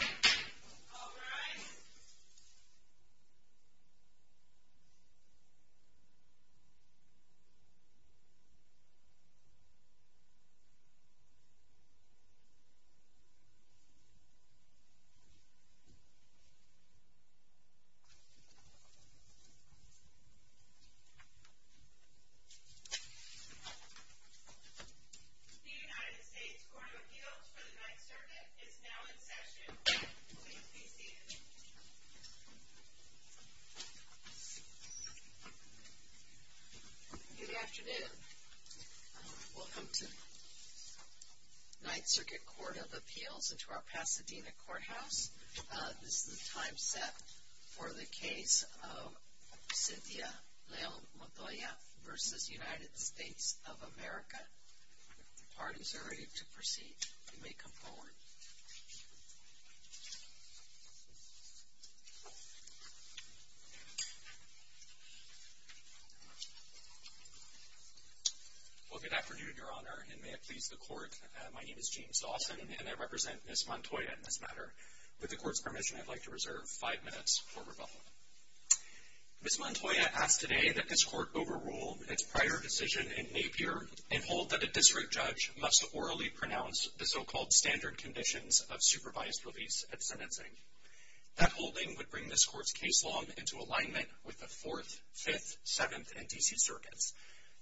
All rise. The United States Court of Appeals for the Ninth Circuit is now in session. Please be seated. Good afternoon. Welcome to the Ninth Circuit Court of Appeals and to our Pasadena Courthouse. This is the time set for the case of Cynthia Leo Montoya v. United States of America. The parties are ready to proceed. You may come forward. Well, good afternoon, Your Honor, and may it please the Court. My name is James Dawson, and I represent Ms. Montoya in this matter. With the Court's permission, I'd like to reserve five minutes for rebuttal. Ms. Montoya asked today that this Court overrule its prior decision in Napier and hold that a district judge must orally pronounce the so-called standard conditions of supervised release at sentencing. That holding would bring this Court's case law into alignment with the Fourth, Fifth, Seventh, and D.C. Circuits.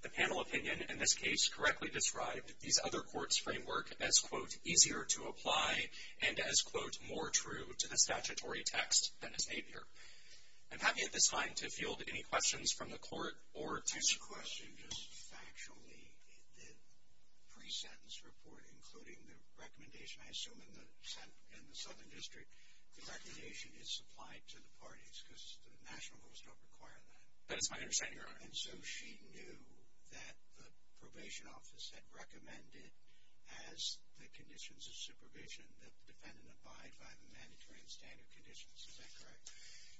The panel opinion in this case correctly described these other Courts' framework as, quote, easier to apply and as, quote, more true to the statutory text than is Napier. I'm happy at this time to field any questions from the Court or to Ms. Montoya. I have a question. Just factually, the pre-sentence report, including the recommendation, I assume, in the Southern District, the recommendation is supplied to the parties because the national courts don't require that. That is my understanding, Your Honor. And so she knew that the probation office had recommended as the conditions of supervision that the defendant abide by the mandatory and standard conditions. Is that correct?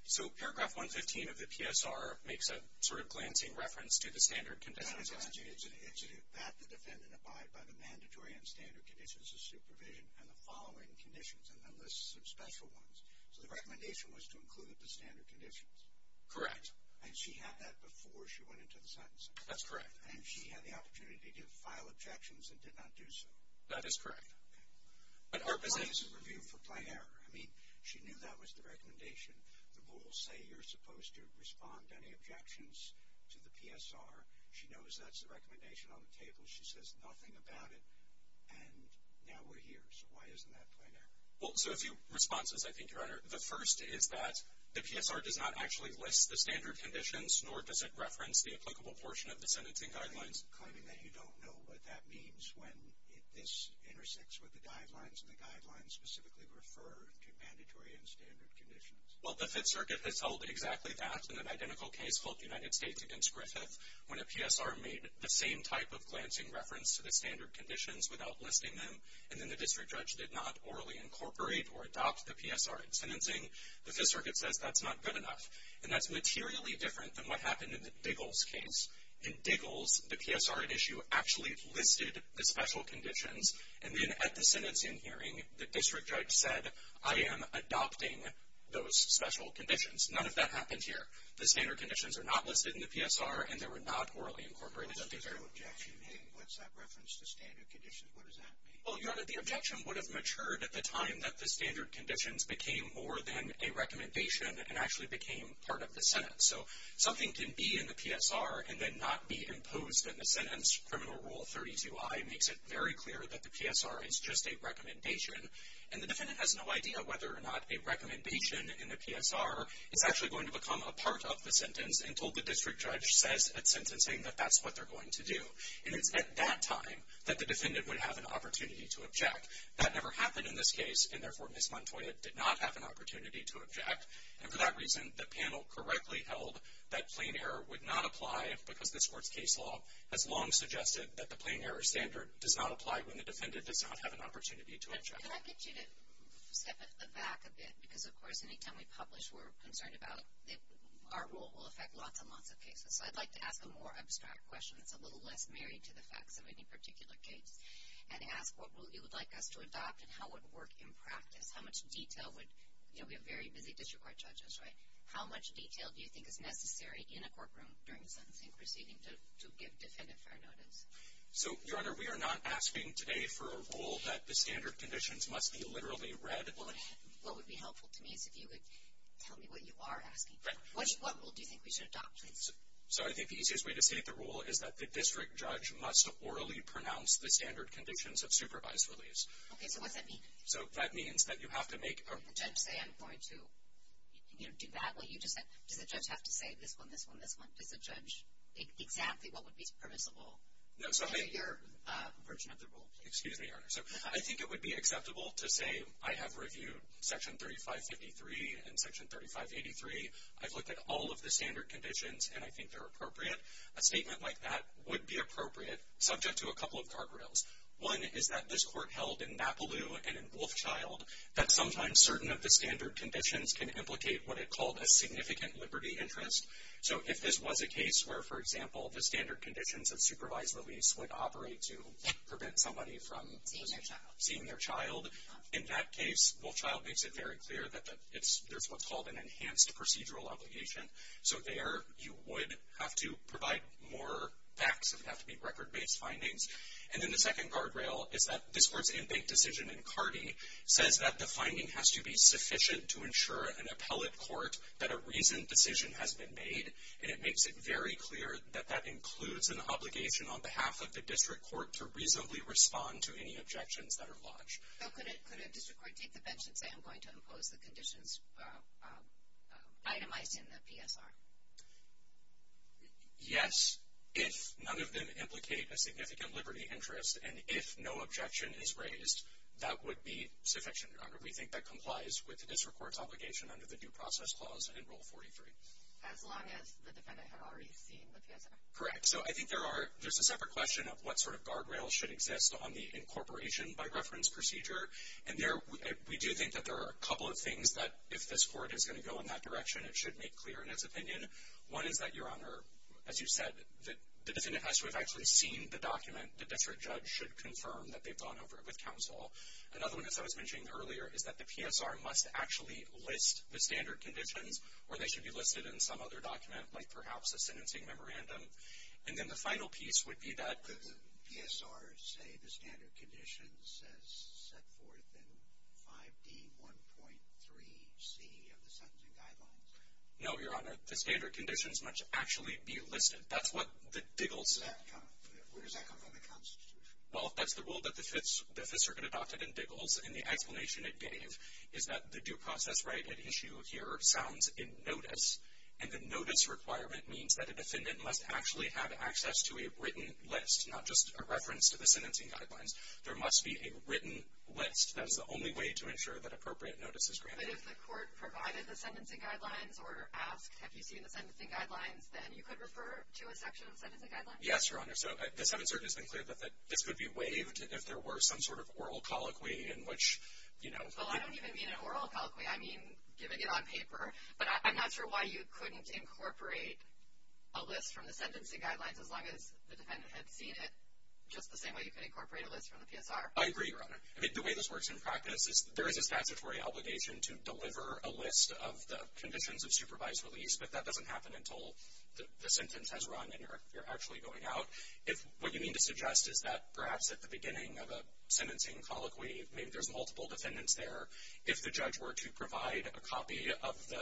So paragraph 115 of the PSR makes a sort of glancing reference to the standard conditions. No, no, no. It's that the defendant abide by the mandatory and standard conditions of supervision and the following conditions, and then lists some special ones. So the recommendation was to include the standard conditions. Correct. And she had that before she went into the sentencing? That's correct. And she had the opportunity to file objections and did not do so? That is correct. Okay. But our position is... Why is it reviewed for plain error? I mean, she knew that was the recommendation. The rules say you're supposed to respond to any objections to the PSR. She knows that's the recommendation on the table. She says nothing about it, and now we're here. So why isn't that plain error? Well, so a few responses, I think, Your Honor. The first is that the PSR does not actually list the standard conditions, nor does it reference the applicable portion of the sentencing guidelines. Are you claiming that you don't know what that means when this intersects with the guidelines and the guidelines specifically refer to mandatory and standard conditions? Well, the Fifth Circuit has held exactly that in an identical case called United States v. Griffith, when a PSR made the same type of glancing reference to the standard conditions without listing them, and then the district judge did not orally incorporate or adopt the PSR in sentencing. The Fifth Circuit says that's not good enough, and that's materially different than what happened in the Diggles case. In Diggles, the PSR at issue actually listed the special conditions, and then at the sentencing hearing, the district judge said, I am adopting those special conditions. None of that happened here. The standard conditions are not listed in the PSR, and they were not orally incorporated at the hearing. What's the objection here? What's that reference to standard conditions? What does that mean? Well, Your Honor, the objection would have matured at the time that the standard conditions became more than a recommendation and actually became part of the sentence. So something can be in the PSR and then not be imposed in the sentence. Criminal Rule 32i makes it very clear that the PSR is just a recommendation, and the defendant has no idea whether or not a recommendation in the PSR is actually going to become a part of the sentence until the district judge says at sentencing that that's what they're going to do. And it's at that time that the defendant would have an opportunity to object. That never happened in this case, and therefore Ms. Montoya did not have an opportunity to object. And for that reason, the panel correctly held that plain error would not apply because this Court's case law has long suggested that the plain error standard does not apply when the defendant does not have an opportunity to object. Can I get you to step at the back a bit? Because, of course, any time we publish, we're concerned about our rule will affect lots and lots of cases. So I'd like to ask a more abstract question that's a little less married to the facts of any particular case and ask what rule you would like us to adopt and how it would work in practice. How much detail would, you know, we have very busy district court judges, right? How much detail do you think is necessary in a courtroom during the sentencing proceeding to give defendant fair notice? So, Your Honor, we are not asking today for a rule that the standard conditions must be literally read. What would be helpful to me is if you would tell me what you are asking. What rule do you think we should adopt, please? So I think the easiest way to state the rule is that the district judge must orally pronounce the standard conditions of supervised release. Okay, so what's that mean? So that means that you have to make a... The judge say, I'm going to, you know, do that. Well, you just said, does the judge have to say this one, this one, this one? Does the judge exactly what would be permissible? No, so... Under your version of the rule. Excuse me, Your Honor. So I think it would be acceptable to say, I have reviewed Section 3553 and Section 3583. I've looked at all of the standard conditions, and I think they're appropriate. A statement like that would be appropriate, subject to a couple of guardrails. One is that this court held in Mapleloo and in Wolfchild that sometimes certain of the standard conditions can implicate what it called a significant liberty interest. So if this was a case where, for example, the standard conditions of supervised release would operate to prevent somebody from... Seeing their child. Seeing their child. In that case, Wolfchild makes it very clear that there's what's called an enhanced procedural obligation. So there you would have to provide more facts. It would have to be record-based findings. And then the second guardrail is that this court's in-bank decision in Cardi says that the finding has to be sufficient to ensure an appellate court that a reasoned decision has been made. And it makes it very clear that that includes an obligation on behalf of the district court to reasonably respond to any objections that are lodged. So could a district court take the bench and say I'm going to impose the conditions itemized in the PSR? Yes. If none of them implicate a significant liberty interest and if no objection is raised, that would be sufficient, Your Honor. We think that complies with the district court's obligation under the Due Process Clause and Rule 43. As long as the defendant had already seen the PSR? Correct. So I think there's a separate question of what sort of guardrails should exist on the incorporation by reference procedure. And we do think that there are a couple of things that if this court is going to go in that direction, it should make clear in its opinion. One is that, Your Honor, as you said, the defendant has to have actually seen the document. The district judge should confirm that they've gone over it with counsel. Another one, as I was mentioning earlier, is that the PSR must actually list the standard conditions or they should be listed in some other document like perhaps a sentencing memorandum. And then the final piece would be that the PSR say the standard conditions as set forth in 5D1.3C of the Sentencing Guidelines. No, Your Honor. The standard conditions must actually be listed. That's what the Diggles... Where does that come from, the Constitution? Well, that's the rule that the Fifth Circuit adopted in Diggles. And the explanation it gave is that the due process right at issue here sounds in notice. And the notice requirement means that a defendant must actually have access to a written list, not just a reference to the Sentencing Guidelines. There must be a written list. That is the only way to ensure that appropriate notice is granted. But if the court provided the Sentencing Guidelines or asked, have you seen the Sentencing Guidelines, then you could refer to a section of the Sentencing Guidelines? Yes, Your Honor. So the Seventh Circuit has been clear that this could be waived if there were some sort of oral colloquy in which, you know... Well, I don't even mean an oral colloquy. I mean giving it on paper. But I'm not sure why you couldn't incorporate a list from the Sentencing Guidelines as long as the defendant had seen it just the same way you could incorporate a list from the PSR. I agree, Your Honor. I mean, the way this works in practice is there is a statutory obligation to deliver a list of the conditions of supervised release, but that doesn't happen until the sentence has run and you're actually going out. What you mean to suggest is that perhaps at the beginning of a sentencing colloquy, maybe there's multiple defendants there, if the judge were to provide a copy of the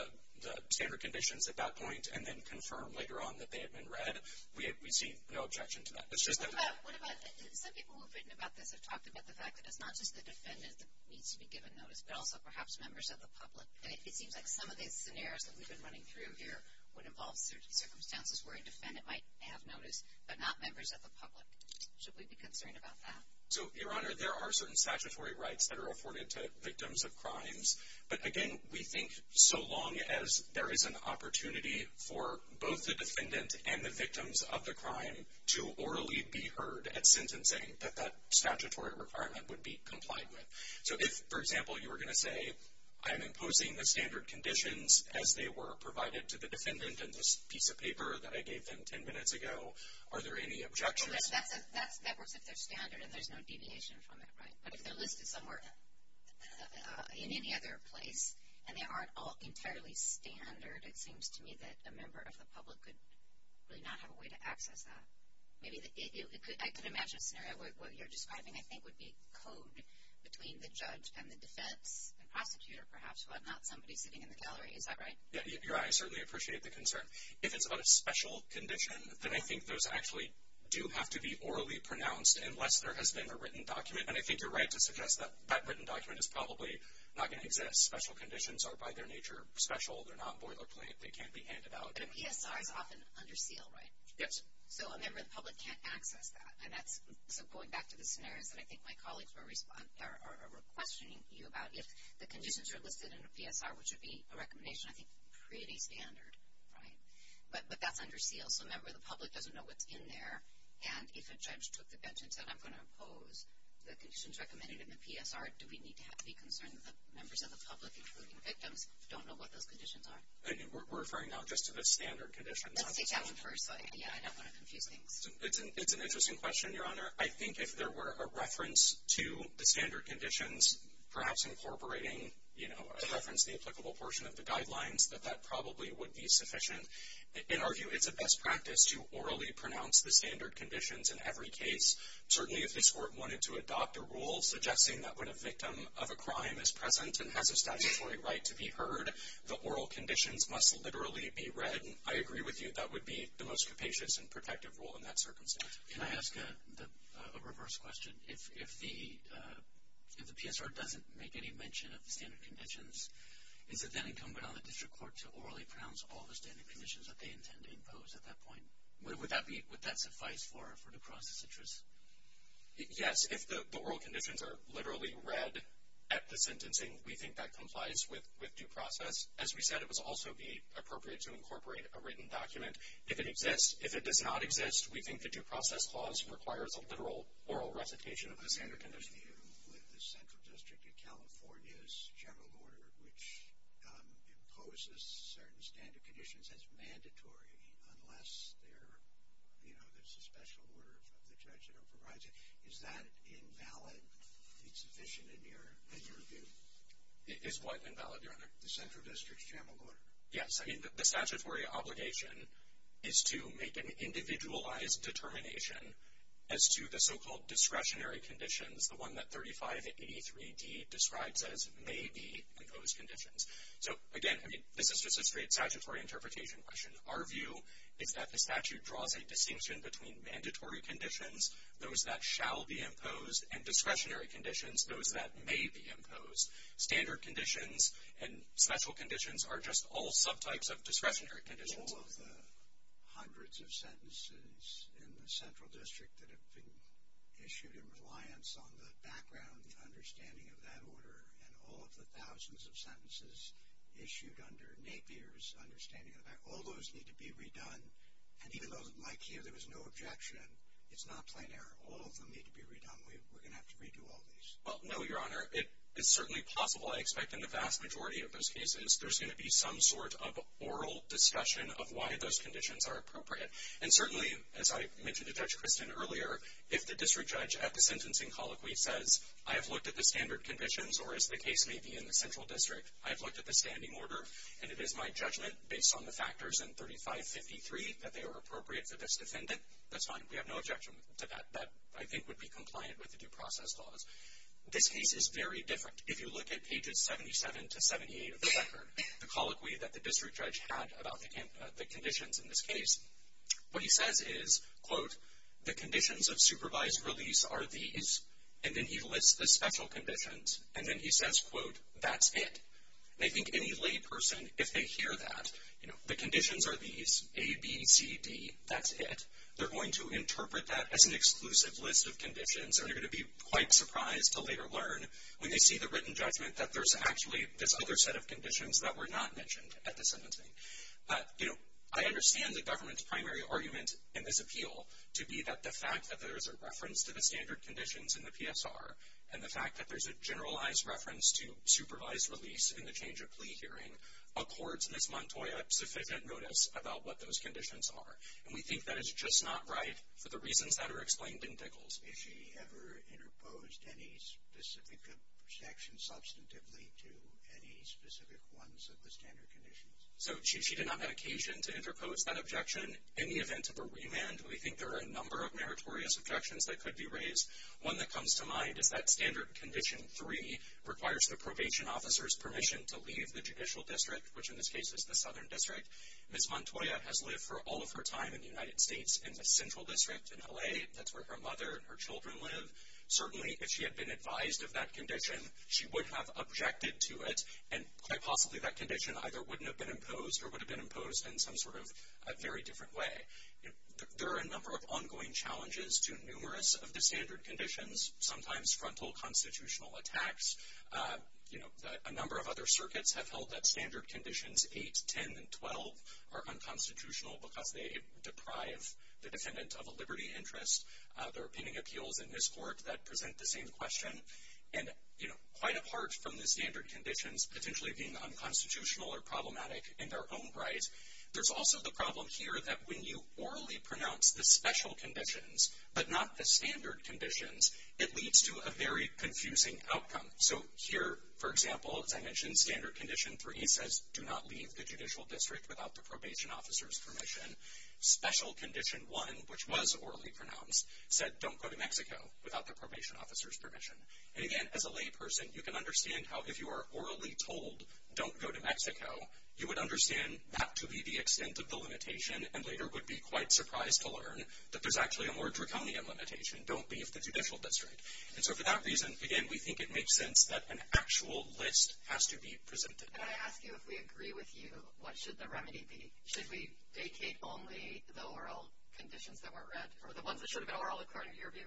standard conditions at that point and then confirm later on that they had been read, we'd see no objection to that. It's just that... What about... Some people who have written about this have talked about the fact that it's not just the defendant that needs to be given notice, but also perhaps members of the public. It seems like some of these scenarios that we've been running through here would involve certain circumstances where a defendant might have notice, but not members of the public. Should we be concerned about that? So, Your Honor, there are certain statutory rights that are afforded to victims of crimes, but again, we think so long as there is an opportunity for both the defendant and the victims of the crime to orally be heard at sentencing, that that statutory requirement would be complied with. So if, for example, you were going to say, I'm imposing the standard conditions as they were provided to the defendant in this piece of paper that I gave them 10 minutes ago, are there any objections? That works if they're standard and there's no deviation from it, right? But if they're listed somewhere in any other place and they aren't all entirely standard, it seems to me that a member of the public could really not have a way to access that. I can imagine a scenario, what you're describing, I think, would be code between the judge and the defense, the prosecutor, perhaps, while not somebody sitting in the gallery. Is that right? Yeah, Your Honor, I certainly appreciate the concern. If it's on a special condition, then I think those actually do have to be orally pronounced unless there has been a written document. And I think you're right to suggest that that written document is probably not going to exist. Special conditions are, by their nature, special. They're not boilerplate. They can't be handed out. But a PSR is often under seal, right? Yes. So a member of the public can't access that. So going back to the scenarios that I think my colleagues were questioning you about, if the conditions are listed in a PSR, which would be a recommendation, I think, pretty standard, right? But that's under seal. So a member of the public doesn't know what's in there. And if a judge took the bench and said, I'm going to oppose the conditions recommended in the PSR, do we need to be concerned that the members of the public, including victims, don't know what those conditions are? We're referring now just to the standard conditions. Let's take that one first. Yeah, I don't want to confuse things. It's an interesting question, Your Honor. I think if there were a reference to the standard conditions, perhaps incorporating, you know, a reference to the applicable portion of the guidelines, that that probably would be sufficient. In our view, it's a best practice to orally pronounce the standard conditions in every case. Certainly if this Court wanted to adopt a rule suggesting that when a victim of a crime is present and has a statutory right to be heard, the oral conditions must literally be read, I agree with you that would be the most capacious and protective rule in that circumstance. Can I ask a reverse question? If the PSR doesn't make any mention of the standard conditions, is it then incumbent on the district court to orally pronounce all the standard conditions that they intend to impose at that point? Would that suffice for due process interest? Yes, if the oral conditions are literally read at the sentencing, we think that complies with due process. As we said, it would also be appropriate to incorporate a written document. If it exists, if it does not exist, we think the due process clause requires a literal oral recitation of the standard conditions. I agree with you with the Central District of California's general order which imposes certain standard conditions as mandatory unless there's a special order from the judge that overrides it. Is that invalid? Is it sufficient in your view? Is what invalid, Your Honor? The Central District's general order. Yes, I mean, the statutory obligation is to make an individualized determination as to the so-called discretionary conditions, the one that 3583D describes as may be imposed conditions. So, again, this is just a straight statutory interpretation question. Our view is that the statute draws a distinction between mandatory conditions, those that shall be imposed, and discretionary conditions, those that may be imposed. Standard conditions and special conditions are just all subtypes of discretionary conditions. All of the hundreds of sentences in the Central District that have been issued in reliance on the background, the understanding of that order, and all of the thousands of sentences issued under Napier's understanding of that, all those need to be redone. And even though, like here, there was no objection, it's not plain error. All of them need to be redone. We're going to have to redo all these. Well, no, Your Honor. It is certainly possible, I expect, in the vast majority of those cases, there's going to be some sort of oral discussion of why those conditions are appropriate. And certainly, as I mentioned to Judge Christin earlier, if the district judge at the sentencing colloquy says, I have looked at the standard conditions, or as the case may be in the Central District, I have looked at the standing order, and it is my judgment, based on the factors in 3553, that they are appropriate for this defendant, that's fine. We have no objection to that. That, I think, would be compliant with the due process laws. This case is very different. If you look at pages 77 to 78 of the record, the colloquy that the district judge had about the conditions in this case, what he says is, quote, the conditions of supervised release are these, and then he lists the special conditions, and then he says, quote, that's it. And I think any lay person, if they hear that, the conditions are these, A, B, C, D, that's it, they're going to interpret that as an exclusive list of conditions, and they're going to be quite surprised to later learn, when they see the written judgment, that there's actually this other set of conditions that were not mentioned at the sentencing. I understand the government's primary argument in this appeal to be that the fact that there is a reference to the standard conditions in the PSR, and the fact that there's a generalized reference to supervised release in the change-of-plea hearing, accords Ms. Montoy a sufficient notice about what those conditions are. And we think that is just not right for the reasons that are explained in Dickels. If she ever interposed any specific objection substantively to any specific ones of the standard conditions. So she did not have occasion to interpose that objection. In the event of a remand, we think there are a number of meritorious objections that could be raised. One that comes to mind is that standard condition 3 requires the probation officer's permission to leave the judicial district, which in this case is the Southern District. Ms. Montoy has lived for all of her time in the United States in the Central District in L.A. That's where her mother and her children live. Certainly, if she had been advised of that condition, she would have objected to it, and quite possibly that condition either wouldn't have been imposed or would have been imposed in some sort of very different way. There are a number of ongoing challenges to numerous of the standard conditions, sometimes frontal constitutional attacks. You know, a number of other circuits have held that standard conditions 8, 10, and 12 are unconstitutional because they deprive the defendant of a liberty interest. There are pending appeals in this court that present the same question. And, you know, quite apart from the standard conditions potentially being unconstitutional or problematic in their own right, there's also the problem here that when you orally pronounce the special conditions but not the standard conditions, it leads to a very confusing outcome. So here, for example, as I mentioned, standard condition 3 says do not leave the judicial district without the probation officer's permission. Special condition 1, which was orally pronounced, said don't go to Mexico without the probation officer's permission. And again, as a layperson, you can understand how if you are orally told don't go to Mexico, you would understand that to be the extent of the limitation and later would be quite surprised to learn that there's actually a more draconian limitation, don't leave the judicial district. And so for that reason, again, we think it makes sense that an actual list has to be presented. And I ask you if we agree with you, what should the remedy be? Should we vacate only the oral conditions that weren't read or the ones that should have been oral, according to your view?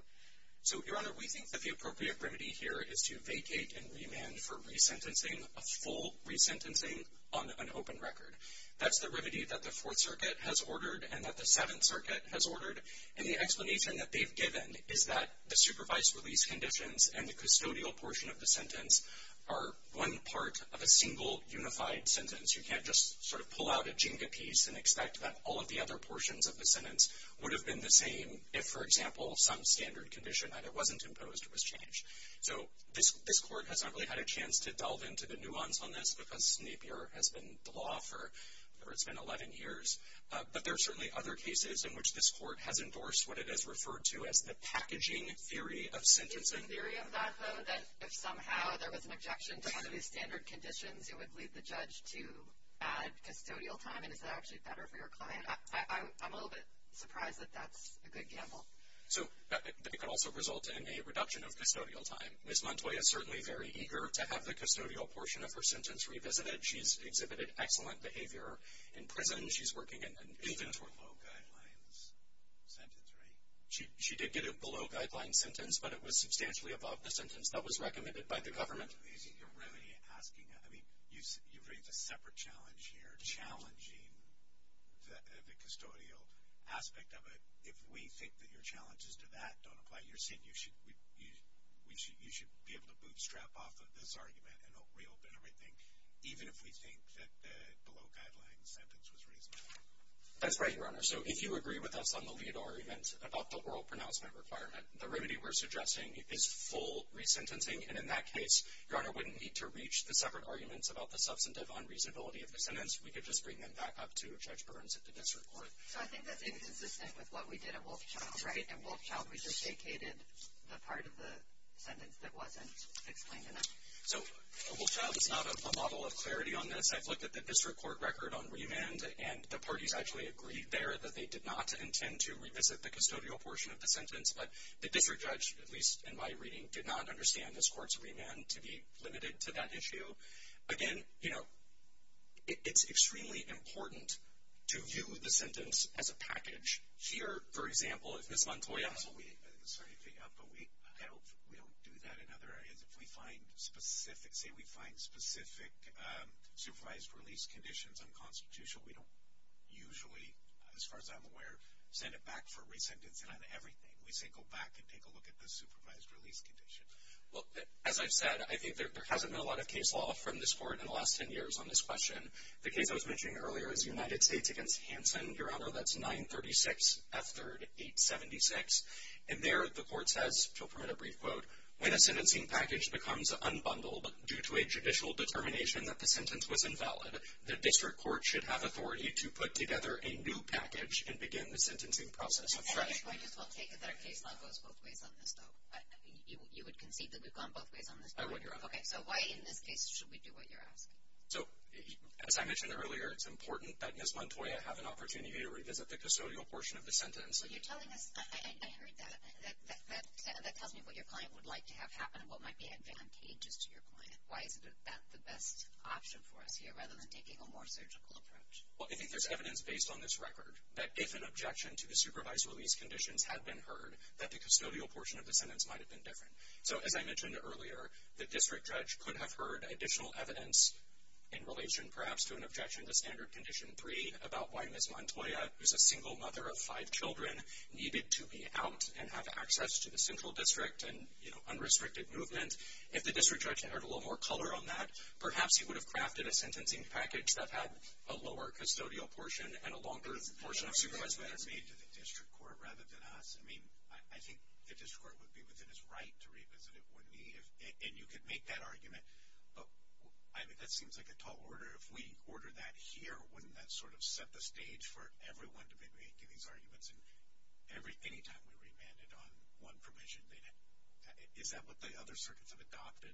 So, Your Honor, we think that the appropriate remedy here is to vacate and remand for resentencing, a full resentencing on an open record. That's the remedy that the Fourth Circuit has ordered and that the Seventh Circuit has ordered. And the explanation that they've given is that the supervised release conditions and the custodial portion of the sentence are one part of a single unified sentence. You can't just sort of pull out a Jenga piece and expect that all of the other portions of the sentence would have been the same if, for example, some standard condition either wasn't imposed or was changed. So this court has not really had a chance to delve into the nuance on this because Napier has been the law for... it's been 11 years. But there are certainly other cases in which this court has endorsed what it has referred to as the packaging theory of sentencing. Is it the theory of that, though, that if somehow there was an objection to one of these standard conditions, it would lead the judge to add custodial time? And is that actually better for your client? I'm a little bit surprised that that's a good gamble. So that could also result in a reduction of custodial time. Ms. Montoya is certainly very eager to have the custodial portion of her sentence revisited. She's exhibited excellent behavior in prison. She's working in confinatory... She did get a below-guidelines sentence, right? She did get a below-guidelines sentence, but it was substantially above the sentence that was recommended by the government. You're really asking... I mean, you raise a separate challenge here, challenging the custodial aspect of it. If we think that your challenges to that don't apply, you're saying you should be able to bootstrap off of this argument and reopen everything, even if we think that the below-guidelines sentence was reasonable? That's right, Your Honor. So if you agree with us on the lead argument about the oral pronouncement requirement, the remedy we're suggesting is full resentencing. And in that case, Your Honor, we wouldn't need to reach the separate arguments about the substantive unreasonability of the sentence. We could just bring them back up to Judge Burns at the district court. So I think that's inconsistent with what we did at Wolfchild, right? At Wolfchild, we just vacated the part of the sentence that wasn't explained enough? So Wolfchild is not a model of clarity on this. I've looked at the district court record on remand, and the parties actually agreed there that they did not intend to revisit the custodial portion of the sentence. But the district judge, at least in my reading, did not understand this court's remand to be limited to that issue. Again, you know, it's extremely important to view the sentence as a package. Here, for example, if Ms. Montoya... I'm sorry to pick up, but we don't do that in other areas. If we find specific, say we find specific supervised release conditions unconstitutional, we don't usually, as far as I'm aware, send it back for re-sentencing on everything. We say go back and take a look at the supervised release condition. Well, as I've said, I think there hasn't been a lot of case law from this court in the last 10 years on this question. The case I was mentioning earlier is the United States against Hanson. Your Honor, that's 936 F. 3rd 876. And there the court says, to permit a brief quote, when a sentencing package becomes unbundled due to a judicial determination that the sentence was invalid, the district court should have authority to put together a new package and begin the sentencing process afresh. I think I might as well take it that our case law goes both ways on this, though. You would concede that we've gone both ways on this? I would, Your Honor. Okay, so why in this case should we do what you're asking? So, as I mentioned earlier, it's important that Ms. Montoya have an opportunity to revisit the custodial portion of the sentence. You're telling us... I heard that. That tells me what your client would like to have happen and what might be advantageous to your client. Why is that the best option for us here, rather than taking a more surgical approach? Well, I think there's evidence based on this record that if an objection to the supervised release conditions had been heard, that the custodial portion of the sentence might have been different. So, as I mentioned earlier, the district judge could have heard additional evidence in relation, perhaps, to an objection to Standard Condition 3 about why Ms. Montoya, who's a single mother of five children, needed to be out and have access to the central district and, you know, unrestricted movement. If the district judge had heard a little more color on that, perhaps he would have crafted a sentencing package that had a lower custodial portion and a longer portion of supervised release. That would have been better made to the district court rather than us. I mean, I think the district court would be within its right to revisit it, wouldn't he? And you could make that argument, but, I mean, that seems like a tall order. If we order that here, wouldn't that sort of set the stage for everyone to be making these arguments anytime we remanded on one provision? Is that what the other circuits have adopted?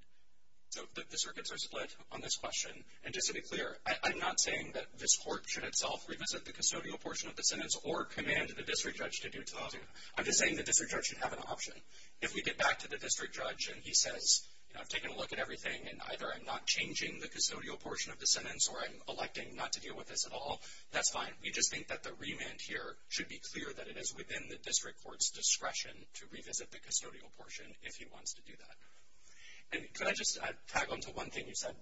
So the circuits are split on this question. And just to be clear, I'm not saying that this court should itself revisit the custodial portion of the sentence or command the district judge to do it to the housing. I'm just saying the district judge should have an option. If we get back to the district judge and he says, you know, I've taken a look at everything and either I'm not changing the custodial portion of the sentence or I'm electing not to deal with this at all, that's fine. We just think that the remand here should be clear that it is within the district court's discretion to revisit the custodial portion if he wants to do that. And could I just tag onto one thing you said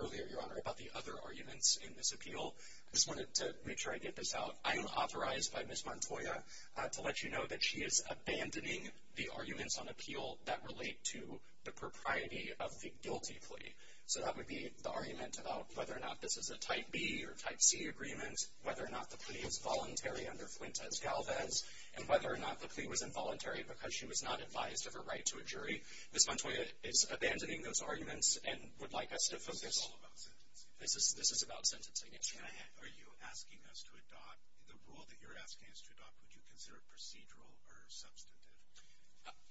earlier, Your Honor, about the other arguments in this appeal? I just wanted to make sure I get this out. I'm authorized by Ms. Montoya to let you know that she is abandoning the arguments on appeal that relate to the propriety of the guilty plea. So that would be the argument about whether or not this is a type B or type C agreement, whether or not the plea is voluntary under Fuentes-Galvez, and whether or not the plea was involuntary because she was not advised of her right to a jury. Ms. Montoya is abandoning those arguments and would like us to focus... This is all about sentencing. This is about sentencing, yes. Are you asking us to adopt... The rule that you're asking us to adopt, would you consider it procedural or substantive?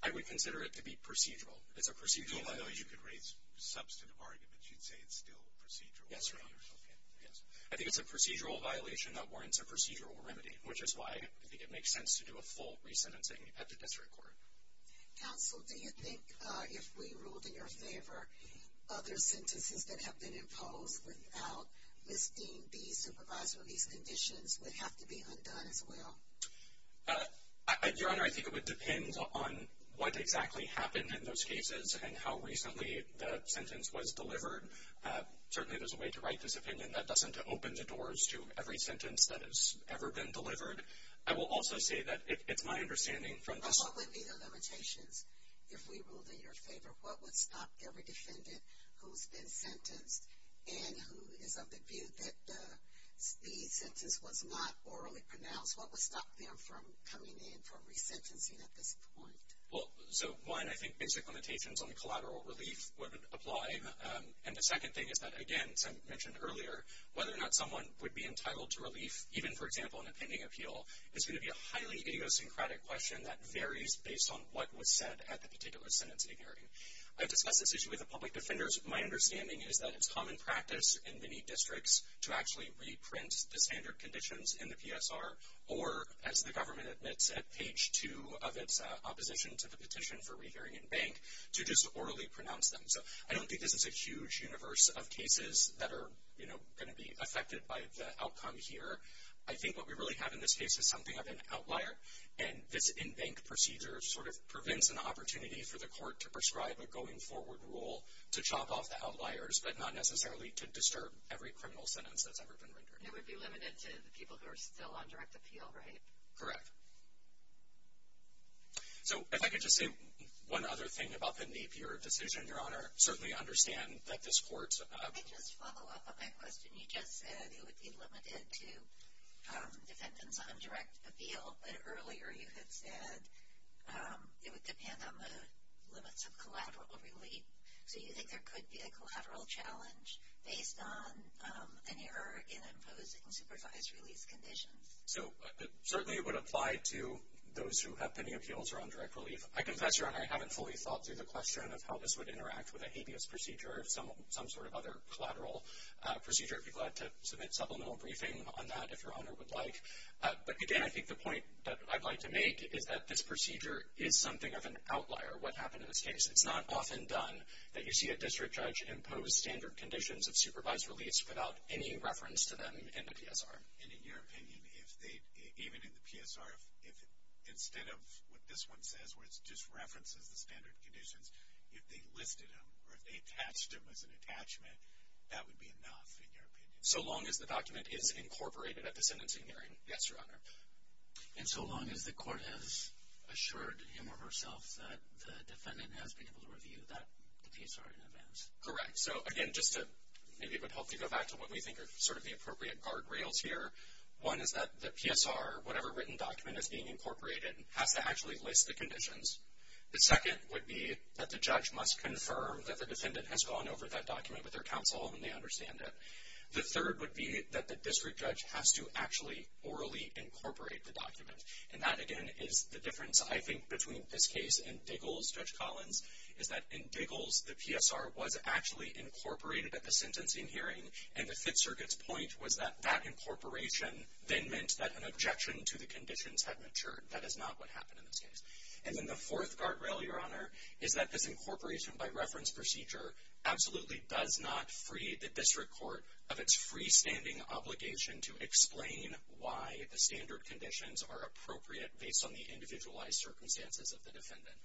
I would consider it to be procedural. It's a procedural argument. I know you could raise substantive arguments. You'd say it's still procedural. Yes, Your Honor. Okay, yes. I think it's a procedural violation that warrants a procedural remedy, which is why I think it makes sense to do a full resentencing at the district court. Counsel, do you think if we ruled in your favor, other sentences that have been imposed without Ms. Dean B, supervisor of these conditions, would have to be undone as well? Your Honor, I think it would depend on what exactly happened in those cases and how recently the sentence was delivered. Certainly there's a way to write this opinion that doesn't open the doors to every sentence that has ever been delivered. I will also say that it's my understanding from this... But what would be the limitations if we ruled in your favor? What would stop every defendant who's been sentenced and who is of the view that the sentence was not orally pronounced? What would stop them from coming in for resentencing at this point? Well, so, one, I think basic limitations on the collateral relief would apply, and the second thing is that, again, as I mentioned earlier, whether or not someone would be entitled to relief, even, for example, in a pending appeal, is going to be a highly idiosyncratic question that varies based on what was said at the particular sentencing hearing. I've discussed this issue with the public defenders. My understanding is that it's common practice in many districts to actually reprint the standard conditions in the PSR or, as the government admits at page 2 of its opposition to the petition for rehearing in bank, to just orally pronounce them. So I don't think this is a huge universe of cases that are going to be affected by the outcome here. I think what we really have in this case is something of an outlier, and this in-bank procedure sort of prevents an opportunity for the court to prescribe a going-forward rule to chop off the outliers but not necessarily to disturb every criminal sentence that's ever been rendered. It would be limited to the people who are still on direct appeal, right? Correct. So if I could just say one other thing about the NAPIER decision, Your Honor. I certainly understand that this court... Can I just follow up on that question? You just said it would be limited to defendants on direct appeal, but earlier you had said it would depend on the limits of collateral relief. So you think there could be a collateral challenge based on an error in imposing supervised release conditions? So certainly it would apply to those who have pending appeals or on direct relief. I confess, Your Honor, I haven't fully thought through the question of how this would interact with a habeas procedure or some sort of other collateral procedure. I'd be glad to submit supplemental briefing on that if Your Honor would like. But again, I think the point that I'd like to make is that this procedure is something of an outlier, what happened in this case. It's not often done that you see a district judge impose standard conditions of supervised release without any reference to them in the PSR. And in your opinion, even in the PSR, if instead of what this one says where it just references the standard conditions, if they listed them or if they attached them as an attachment, that would be enough, in your opinion? So long as the document is incorporated at the sentencing hearing, yes, Your Honor. And so long as the court has assured him or herself that the defendant has been able to review the PSR in advance? Correct. So again, maybe it would help to go back to what we think are sort of the appropriate guardrails here. One is that the PSR, whatever written document is being incorporated, has to actually list the conditions. The second would be that the judge must confirm that the defendant has gone over that document with their counsel and they understand it. The third would be that the district judge has to actually orally incorporate the document. And that, again, is the difference, I think, between this case and Diggles, Judge Collins, is that in Diggles the PSR was actually incorporated at the sentencing hearing and the Fifth Circuit's point was that that incorporation then meant that an objection to the conditions had matured. That is not what happened in this case. And then the fourth guardrail, Your Honor, is that this incorporation by reference procedure absolutely does not free the district court of its freestanding obligation to explain why the standard conditions are appropriate based on the individualized circumstances of the defendant.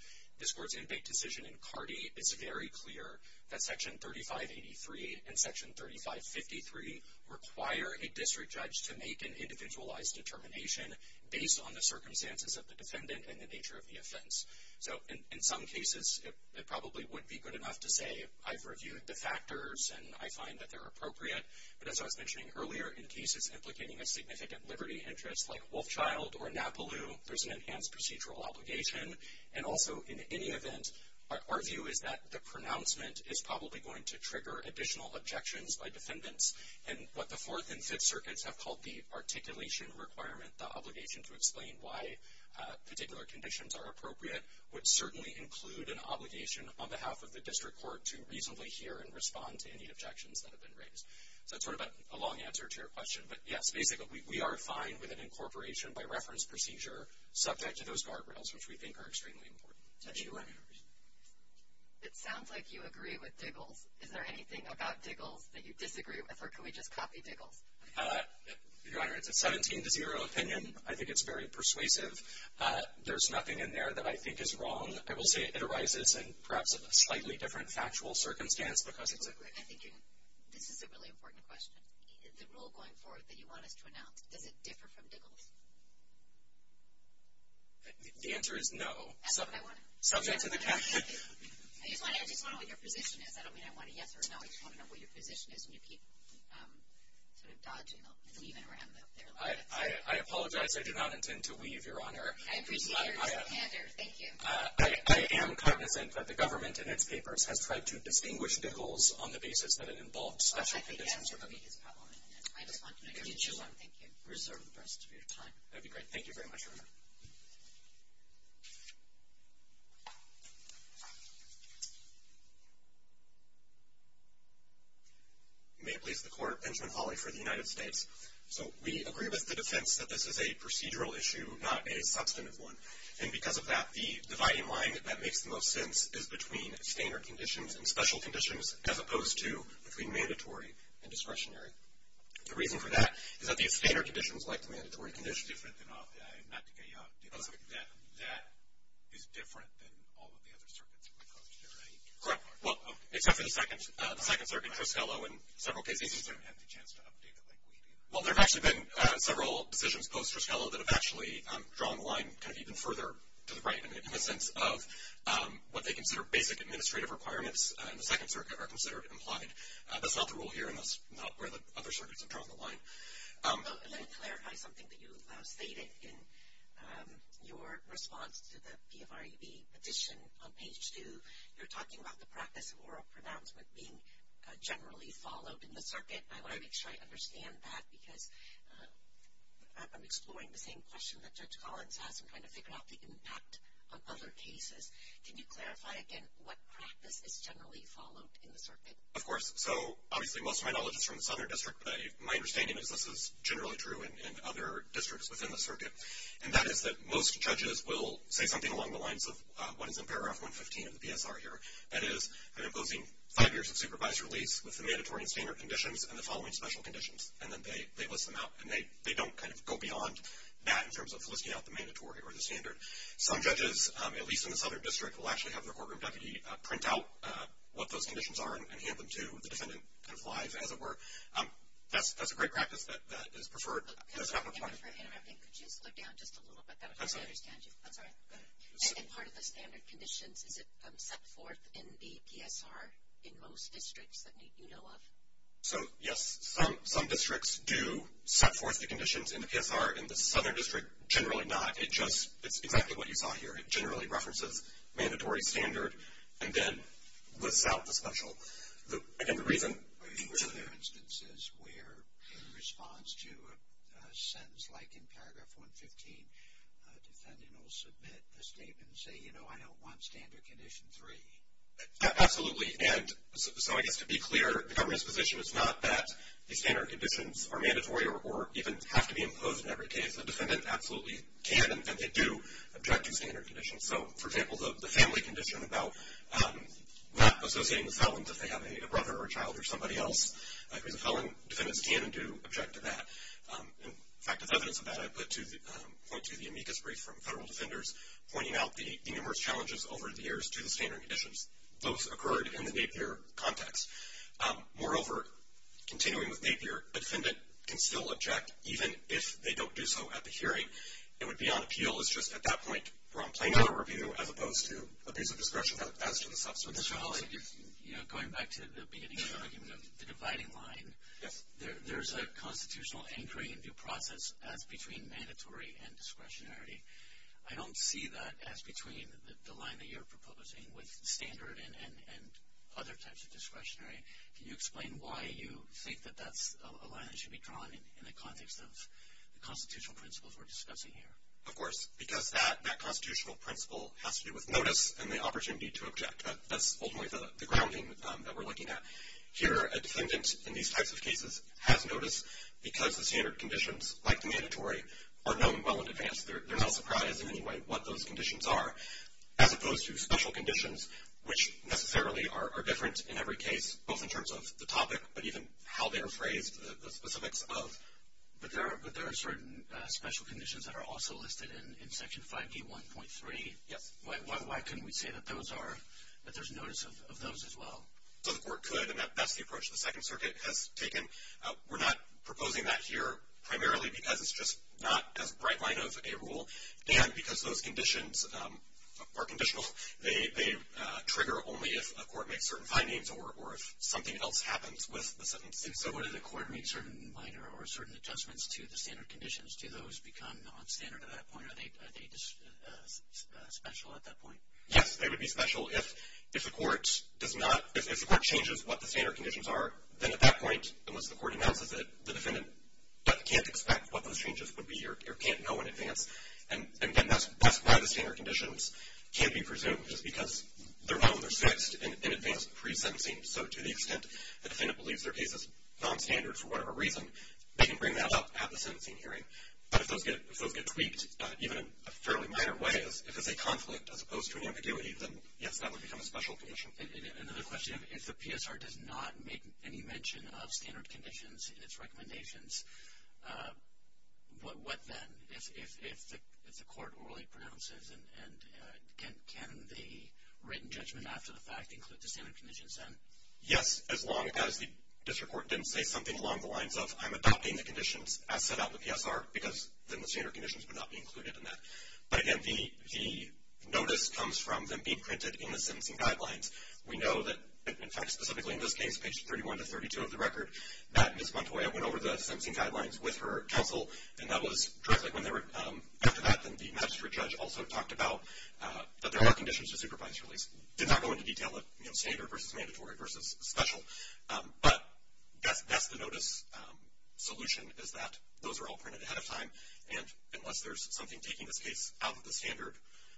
This court's inmate decision in Cardi is very clear that Section 3583 and Section 3553 require a district judge to make an individualized determination based on the circumstances of the defendant and the nature of the offense. So in some cases it probably would be good enough to say I've reviewed the factors and I find that they're appropriate, but as I was mentioning earlier, in cases implicating a significant liberty interest like Wolfchild or Napaloo, there's an enhanced procedural obligation and also in any event, our view is that the pronouncement is probably going to trigger additional objections by defendants and what the Fourth and Fifth Circuits have called the articulation requirement, the obligation to explain why particular conditions are appropriate, would certainly include an obligation on behalf of the district court to reasonably hear and respond to any objections that have been raised. So it's sort of a long answer to your question, but yes, basically we are fine with an incorporation by reference procedure, subject to those guardrails, which we think are extremely important. It sounds like you agree with Diggles. Is there anything about Diggles that you disagree with, or can we just copy Diggles? Your Honor, it's a 17-0 opinion. I think it's very persuasive. There's nothing in there that I think is wrong. I will say it arises in perhaps a slightly different factual circumstance because it's a... This is a really important question. The rule going forward that you want us to announce, does it differ from Diggles? The answer is no. That's what I want to know. Subject to the... I just want to know what your position is. I don't mean I want a yes or a no. I just want to know what your position is when you keep sort of dodging and weaving around. I apologize. I did not intend to weave, Your Honor. I appreciate your standard. Thank you. I am cognizant that the government in its papers has tried to distinguish Diggles on the basis that it involved special conditions. I think that's the biggest problem. I just want to know your position. Thank you. Reserve the rest of your time. That would be great. Thank you very much, Your Honor. May it please the Court. Benjamin Hawley for the United States. So we agree with the defense that this is a procedural issue, not a substantive one. And because of that, the dividing line that makes the most sense is between standard conditions and special conditions, as opposed to between mandatory and discretionary. The reason for that is that these standard conditions, like the mandatory conditions... Different than... Not to get you off... That is different than all of the other circuits that we've approached here, right? Correct. Well, except for the second circuit, Triskelo, in several cases... We haven't had the chance to update it like we did. Well, there have actually been several decisions post-Triskelo that have actually drawn the line kind of even further to the right in the sense of what they consider basic administrative requirements in the second circuit are considered implied. That's not the rule here, and that's not where the other circuits have drawn the line. Let me clarify something that you stated in your response to the PFREB petition on page 2. You're talking about the practice of oral pronouncement being generally followed in the circuit. I want to make sure I understand that because I'm exploring the same question that Judge Collins has and trying to figure out the impact of other cases. Can you clarify again what practice is generally followed in the circuit? Of course. So, obviously, most of my knowledge is from the Southern District, but my understanding is this is generally true in other districts within the circuit, and that is that most judges will say something along the lines of what is in paragraph 115 of the PSR here. That is, I'm imposing five years of supervised release with the mandatory and standard conditions and the following special conditions, and then they list them out, and they don't kind of go beyond that in terms of listing out the mandatory or the standard. Some judges, at least in the Southern District, will actually have their courtroom deputy print out what those conditions are and hand them to the defendant kind of live, as it were. That's a great practice that is preferred. Could you slow down just a little bit? That's all right. And part of the standard conditions, is it set forth in the PSR in most districts that you know of? So, yes, some districts do set forth the conditions in the PSR. In the Southern District, generally not. It's exactly what you saw here. It generally references mandatory, standard, and then lists out the special. Again, the reason? Are there instances where in response to a sentence like in paragraph 115, a defendant will submit a statement and say, you know, I don't want standard condition three? Absolutely, and so I guess to be clear, the government's position is not that the standard conditions are mandatory or even have to be imposed in every case. The defendant absolutely can and they do object to standard conditions. So, for example, the family condition about not associating with felons if they have a brother or a child or somebody else who's a felon, defendants can and do object to that. In fact, as evidence of that, I point to the amicus brief from federal defenders pointing out the numerous challenges over the years to the standard conditions. Those occurred in the Napier context. Moreover, continuing with Napier, a defendant can still object even if they don't do so at the hearing. It would be on appeal. It's just at that point we're on plain-court review as opposed to abuse of discretion as to the substance. Mr. Hawley, you know, going back to the beginning of the argument of the dividing line, there's a constitutional anchoring and due process as between mandatory and discretionary. I don't see that as between the line that you're proposing with standard and other types of discretionary. Can you explain why you think that that's a line that should be drawn in the context of the constitutional principles we're discussing here? Of course, because that constitutional principle has to do with notice and the opportunity to object. That's ultimately the grounding that we're looking at. Here, a defendant in these types of cases has notice because the standard conditions, like the mandatory, are known well in advance. They're not surprised in any way what those conditions are. As opposed to special conditions, which necessarily are different in every case, both in terms of the topic but even how they're phrased, the specifics of. But there are certain special conditions that are also listed in Section 5B1.3. Yes. Why couldn't we say that there's notice of those as well? So the court could, and that's the approach the Second Circuit has taken. We're not proposing that here primarily because it's just not as bright light of a rule and because those conditions are conditional. They trigger only if a court makes certain findings or if something else happens with the Second Circuit. So when the court makes certain minor or certain adjustments to the standard conditions, do those become nonstandard at that point? Are they special at that point? Yes, they would be special if the court changes what the standard conditions are. Then at that point, unless the court announces it, the defendant can't expect what those changes would be or can't know in advance. And, again, that's why the standard conditions can't be presumed, just because they're known or fixed in advance pre-sentencing. So to the extent the defendant believes their case is nonstandard for whatever reason, they can bring that up at the sentencing hearing. But if those get tweaked, even in a fairly minor way, if it's a conflict as opposed to an ambiguity, then, yes, that would become a special condition. Another question, if the PSR does not make any mention of standard conditions in its recommendations, what then if the court orally pronounces and can the written judgment after the fact include the standard conditions then? Yes, as long as the district court didn't say something along the lines of, I'm adopting the conditions as set out in the PSR, because then the standard conditions would not be included in that. But, again, the notice comes from them being printed in the sentencing guidelines. We know that, in fact, specifically in this case, pages 31 to 32 of the record, that Ms. Montoya went over the sentencing guidelines with her counsel, and that was directly after that the magistrate judge also talked about that there are conditions for supervised release. Did not go into detail of standard versus mandatory versus special. But that's the notice solution, is that those are all printed ahead of time, and unless there's something taking this case out of the standard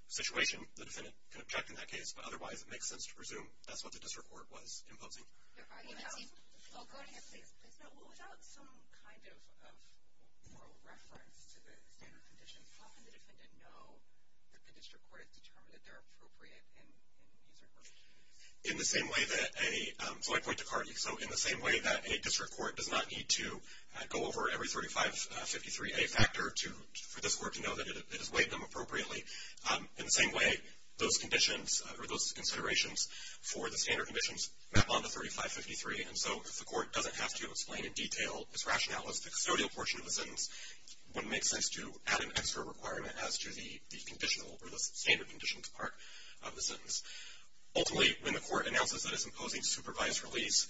situation, the defendant can object in that case, but otherwise it makes sense to presume that's what the district court was imposing. Go ahead, please. Without some kind of moral reference to the standard conditions, how can the defendant know that the district court has determined that they're appropriate in using those conditions? In the same way that any, so I point to CART, so in the same way that a district court does not need to go over every 3553A factor for this court to know that it has weighed them appropriately, in the same way those conditions or those considerations for the standard conditions map onto 3553, and so if the court doesn't have to explain in detail its rationale as the custodial portion of the sentence, it would make sense to add an extra requirement as to the conditional or the standard conditions part of the sentence. Ultimately, when the court announces that it's imposing supervised release,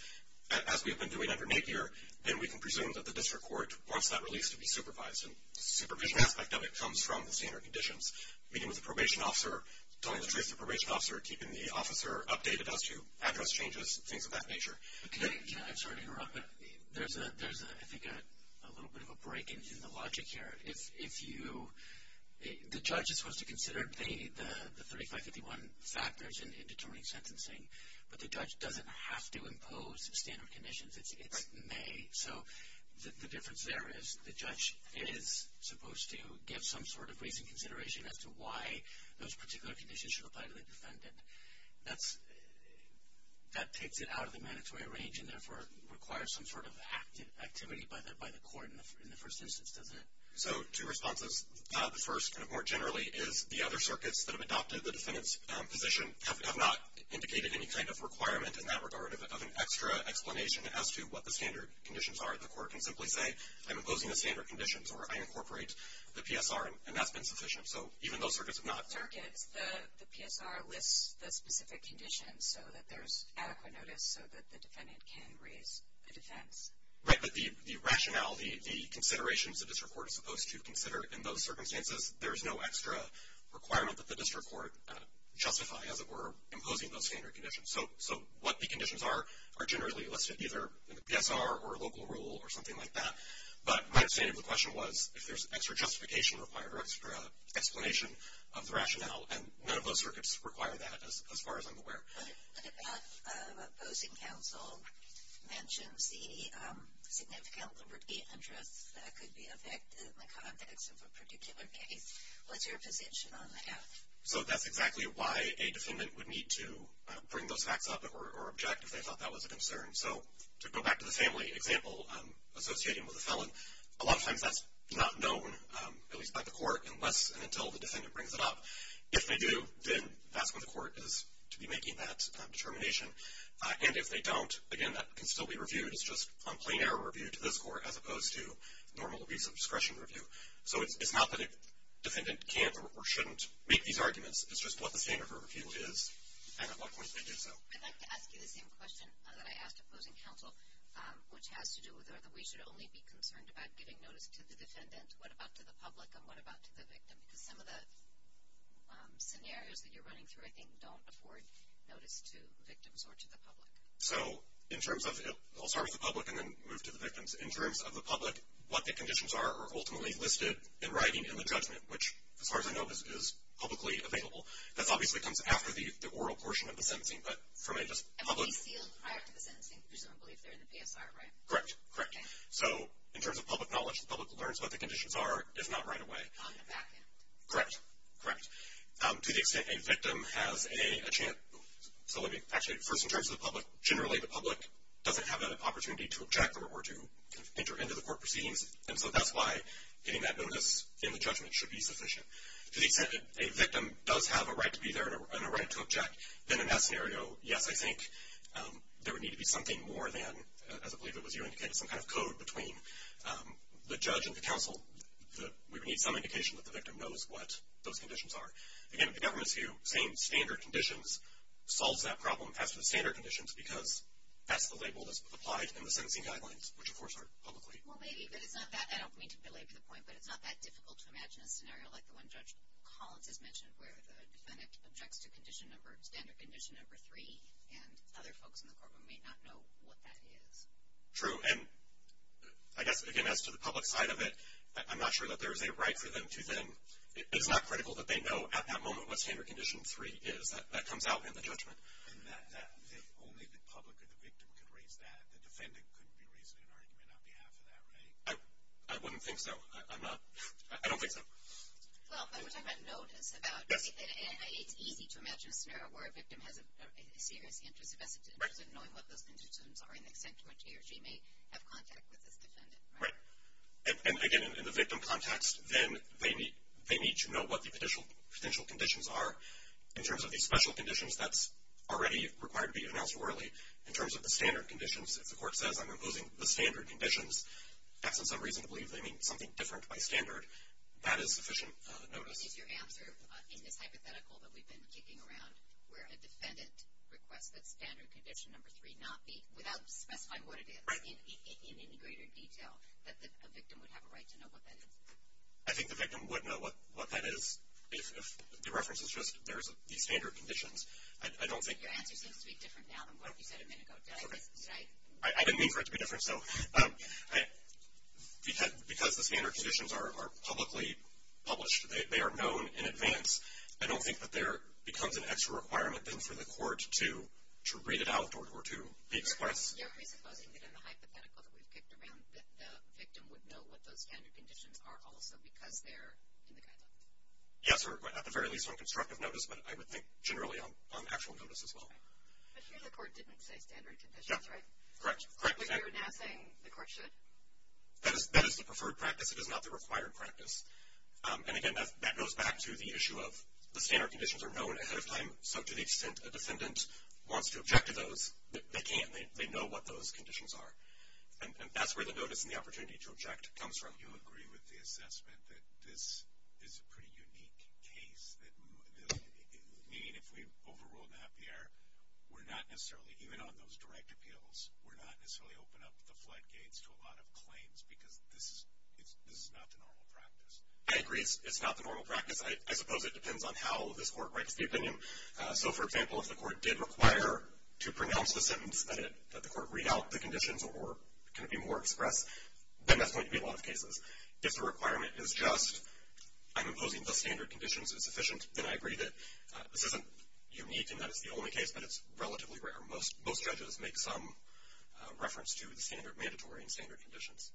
as we have been doing under Napier, then we can presume that the district court wants that release to be supervised, and the supervision aspect of it comes from the standard conditions. Meeting with the probation officer, telling the trace the probation officer, keeping the officer updated as to address changes, things of that nature. I'm sorry to interrupt, but there's, I think, a little bit of a break in the logic here. The judge is supposed to consider the 3551 factors in determining sentencing, but the judge doesn't have to impose standard conditions. It's may. So the difference there is the judge is supposed to give some sort of recent consideration as to why those particular conditions should apply to the defendant. That takes it out of the mandatory range and therefore requires some sort of activity by the court in the first instance, doesn't it? So two responses. The first, more generally, is the other circuits that have adopted the defendant's position have not indicated any kind of requirement in that regard of an extra explanation as to what the standard conditions are. The court can simply say, I'm imposing the standard conditions, or I incorporate the PSR, and that's been sufficient. So even though circuits have not. Circuits, the PSR lists the specific conditions so that there's adequate notice so that the defendant can raise a defense. Right, but the rationale, the considerations the district court is supposed to consider in those circumstances, there's no extra requirement that the district court justify as it were imposing those standard conditions. So what the conditions are are generally listed either in the PSR or local rule or something like that. But my understanding of the question was if there's extra justification required or extra explanation of the rationale, and none of those circuits require that as far as I'm aware. Another point about opposing counsel mentions the significant liberty interests that could be affected in the context of a particular case. What's your position on that? So that's exactly why a defendant would need to bring those facts up or object if they thought that was a concern. So to go back to the family example, associating with a felon, a lot of times that's not known, at least by the court, unless and until the defendant brings it up. If they do, then that's what the court is to be making that determination. And if they don't, again, that can still be reviewed. It's just a plain error review to this court as opposed to normal release of discretion review. So it's not that a defendant can't or shouldn't make these arguments. It's just what the standard of review is and at what point they do so. I'd like to ask you the same question that I asked opposing counsel, which has to do with whether we should only be concerned about giving notice to the defendant. What about to the public and what about to the victim? Because some of the scenarios that you're running through, I think, don't afford notice to the victims or to the public. So in terms of, I'll start with the public and then move to the victims. In terms of the public, what the conditions are are ultimately listed in writing in the judgment, which, as far as I know, is publicly available. That obviously comes after the oral portion of the sentencing. And they're sealed prior to the sentencing, presumably, if they're in the PSR, right? Correct, correct. So in terms of public knowledge, the public learns what the conditions are, if not right away. On the back end. Correct, correct. To the extent a victim has a chance. Actually, first in terms of the public, generally the public doesn't have an opportunity to object or to enter into the court proceedings. And so that's why getting that notice in the judgment should be sufficient. To the extent that a victim does have a right to be there and a right to object, then in that scenario, yes, I think there would need to be something more than, as I believe it was you indicating, some kind of code between the judge and the counsel. We would need some indication that the victim knows what those conditions are. Again, the government's view, same standard conditions, solves that problem as to the standard conditions because that's the label that's applied in the sentencing guidelines, which, of course, are publicly. Well, maybe, but it's not that, I don't mean to belabor the point, but it's not that difficult to imagine a scenario like the one Judge Collins has mentioned where the defendant objects to standard condition number three and other folks in the courtroom may not know what that is. True, and I guess, again, as to the public side of it, I'm not sure that there is a right for them to then, it's not critical that they know at that moment what standard condition three is. That comes out in the judgment. If only the public or the victim could raise that, the defendant couldn't be raising an argument on behalf of that, right? I wouldn't think so. I'm not, I don't think so. Well, but we're talking about notice about, it's easy to imagine a scenario where a victim has a serious interest, a specific interest in knowing what those conditions are and the extent to which he or she may have contact with this defendant. Right. And, again, in the victim context, then they need to know what the potential conditions are. In terms of the special conditions, that's already required to be announced orally. In terms of the standard conditions, if the court says, I'm imposing the standard conditions, that's in some reason to believe they mean something different by standard. That is sufficient notice. Is your answer in this hypothetical that we've been kicking around where a defendant requests that standard condition number three not be, without specifying what it is in any greater detail, that a victim would have a right to know what that is? I think the victim would know what that is if the reference is just there's these standard conditions. Your answer seems to be different now than what you said a minute ago. I didn't mean for it to be different. Because the standard conditions are publicly published, they are known in advance, I don't think that there becomes an extra requirement, then, for the court to read it out or to express. You're presupposing that in the hypothetical that we've kicked around that the victim would know what those standard conditions are also because they're in the guideline? Yes, or at the very least on constructive notice, but I would think generally on actual notice as well. But here the court didn't say standard conditions, right? Correct. So you're now saying the court should? That is the preferred practice. It is not the required practice. And, again, that goes back to the issue of the standard conditions are known ahead of time, so to the extent a defendant wants to object to those, they can. They know what those conditions are. And that's where the notice and the opportunity to object comes from. You agree with the assessment that this is a pretty unique case, meaning if we overrule NAPIER, we're not necessarily, even on those direct appeals, we're not necessarily open up the floodgates to a lot of claims because this is not the normal practice. I agree it's not the normal practice. I suppose it depends on how this court writes the opinion. So, for example, if the court did require to pronounce the sentence that the court read out the conditions or can it be more expressed, then that's going to be a lot of cases. If the requirement is just I'm imposing the standard conditions as sufficient, then I agree that this isn't unique and that it's the only case, but it's relatively rare. Most judges make some reference to the standard mandatory and standard conditions.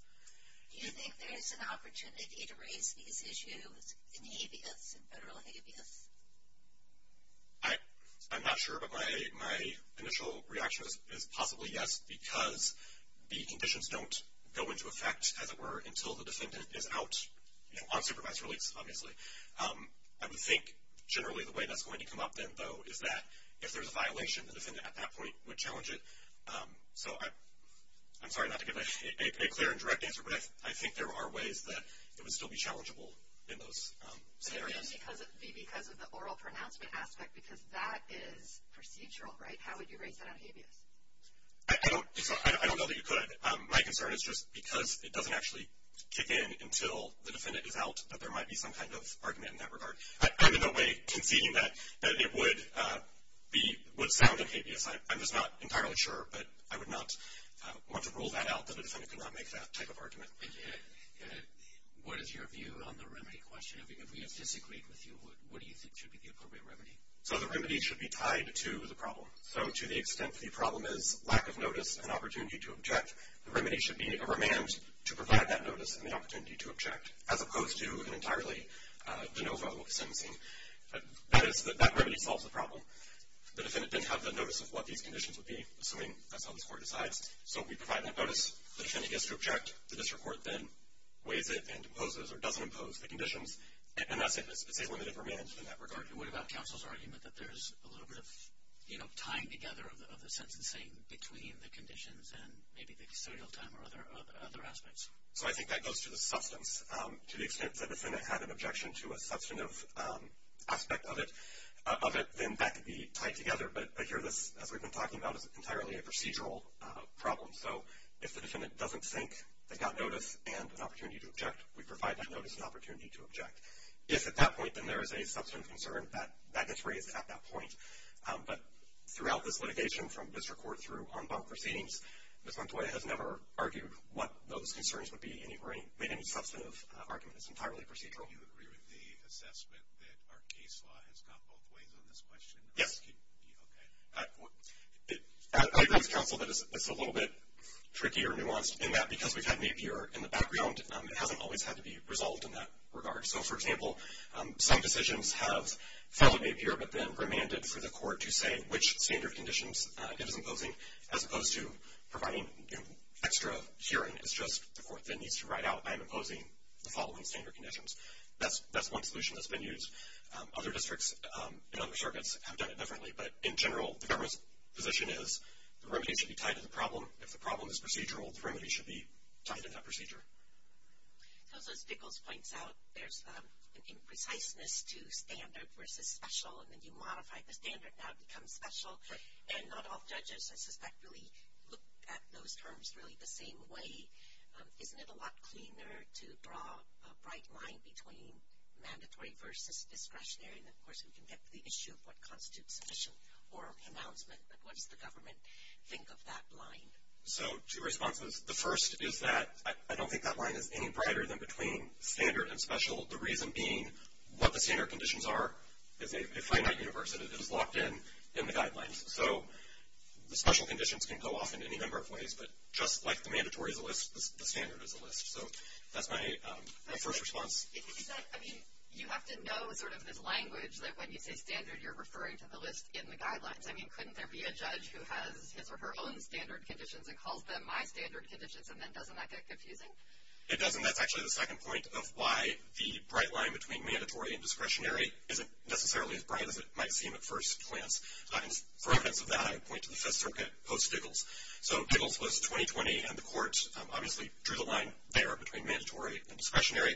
Do you think there is an opportunity to raise these issues in habeas, in federal habeas? I'm not sure, but my initial reaction is possibly yes, because the conditions don't go into effect, as it were, until the defendant is out on supervised release, obviously. I would think generally the way that's going to come up then, though, is that if there's a violation, the defendant at that point would challenge it. So I'm sorry not to give a clear and direct answer, but I think there are ways that it would still be challengeable in those scenarios. It would be because of the oral pronouncement aspect, because that is procedural, right? How would you raise that on habeas? I don't know that you could. My concern is just because it doesn't actually kick in until the defendant is out, that there might be some kind of argument in that regard. I'm in no way conceding that it would sound like habeas. I'm just not entirely sure, but I would not want to rule that out that a defendant could not make that type of argument. What is your view on the remedy question? If we disagree with you, what do you think should be the appropriate remedy? So the remedy should be tied to the problem. So to the extent the problem is lack of notice and opportunity to object, the remedy should be a remand to provide that notice and the opportunity to object, as opposed to an entirely de novo sentencing. That remedy solves the problem. The defendant didn't have the notice of what these conditions would be, assuming that's how this Court decides. So we provide that notice. The defendant gets to object. The district court then weighs it and imposes or doesn't impose the conditions, and that's it. It's a limited remand in that regard. And what about counsel's argument that there's a little bit of, you know, tying together of the sentencing between the conditions and maybe the custodial time or other aspects? So I think that goes to the substance. To the extent that the defendant had an objection to a substantive aspect of it, then that could be tied together. But here this, as we've been talking about, is entirely a procedural problem. So if the defendant doesn't think they got notice and an opportunity to object, we provide that notice and opportunity to object. If at that point then there is a substantive concern, that gets raised at that point. But throughout this litigation from district court through en banc proceedings, Ms. Montoya has never argued what those concerns would be or made any substantive argument. It's entirely procedural. Do you agree with the assessment that our case law has gone both ways on this question? Yes. Okay. I agree with counsel that it's a little bit tricky or nuanced in that because we've had Napier in the background, it hasn't always had to be resolved in that regard. So, for example, some decisions have followed Napier but then remanded for the Court to say which standard conditions it is imposing as opposed to providing extra hearing. It's just the Court then needs to write out, I'm imposing the following standard conditions. That's one solution that's been used. Other districts in other circuits have done it differently. But in general, the government's position is the remedy should be tied to the problem. If the problem is procedural, the remedy should be tied to that procedure. So as Nichols points out, there's an impreciseness to standard versus special. And then you modify the standard, now it becomes special. And not all judges, I suspect, really look at those terms really the same way. Isn't it a lot cleaner to draw a bright line between mandatory versus discretionary? And, of course, we can get to the issue of what constitutes sufficient oral announcement, but what does the government think of that line? So two responses. The first is that I don't think that line is any brighter than between standard and special, the reason being what the standard conditions are is a finite universe, and it is locked in in the guidelines. So the special conditions can go off in any number of ways, but just like the mandatory is a list, the standard is a list. So that's my first response. I mean, you have to know sort of this language that when you say standard, you're referring to the list in the guidelines. I mean, couldn't there be a judge who has his or her own standard conditions and calls them my standard conditions, and then doesn't that get confusing? It doesn't. That's actually the second point of why the bright line between mandatory and discretionary isn't necessarily as bright as it might seem at first glance. For evidence of that, I would point to the Fifth Circuit post-Biggles. So Biggles was 2020, and the court obviously drew the line there between mandatory and discretionary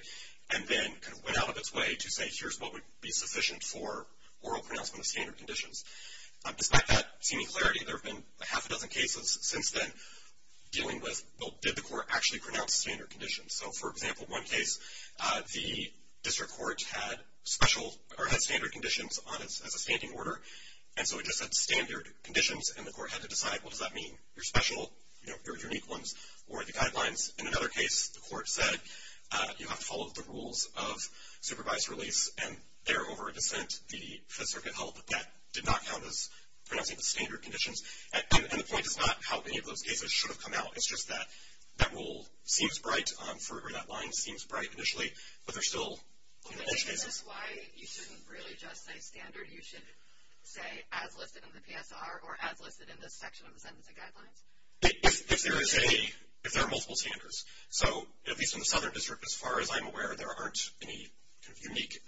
and then kind of went out of its way to say here's what would be sufficient for oral pronouncement of standard conditions. Despite that seeming clarity, there have been a half a dozen cases since then dealing with, well, did the court actually pronounce standard conditions? So, for example, one case, the district court had special or had standard conditions as a standing order, and so it just said standard conditions, and the court had to decide, well, does that mean your special, your unique ones, or the guidelines? In another case, the court said you have to follow the rules of supervised release, and there, over a dissent, the Fifth Circuit held that that did not count as pronouncing the standard conditions. And the point is not how many of those cases should have come out. It's just that that rule seems bright, or that line seems bright initially, but there's still a whole bunch of cases. Is this why you shouldn't really just say standard? You should say as listed in the PSR or as listed in this section of the sentencing guidelines? If there are multiple standards. So, at least in the Southern District, as far as I'm aware, there aren't any unique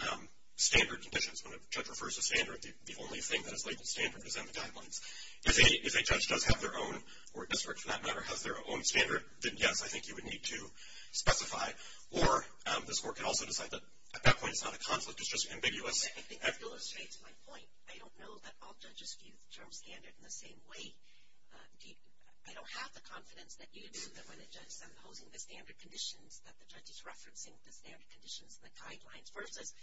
standard conditions. When a judge refers to standard, the only thing that is labeled standard is in the guidelines. If a judge does have their own, or a district, for that matter, has their own standard, then, yes, I think you would need to specify, or this court could also decide that at that point it's not a conflict, it's just ambiguous. I think that illustrates my point. I don't know that all judges view the term standard in the same way. I don't have the confidence that you do, that when a judge is imposing the standard conditions, that the judge is referencing the standard conditions in the guidelines versus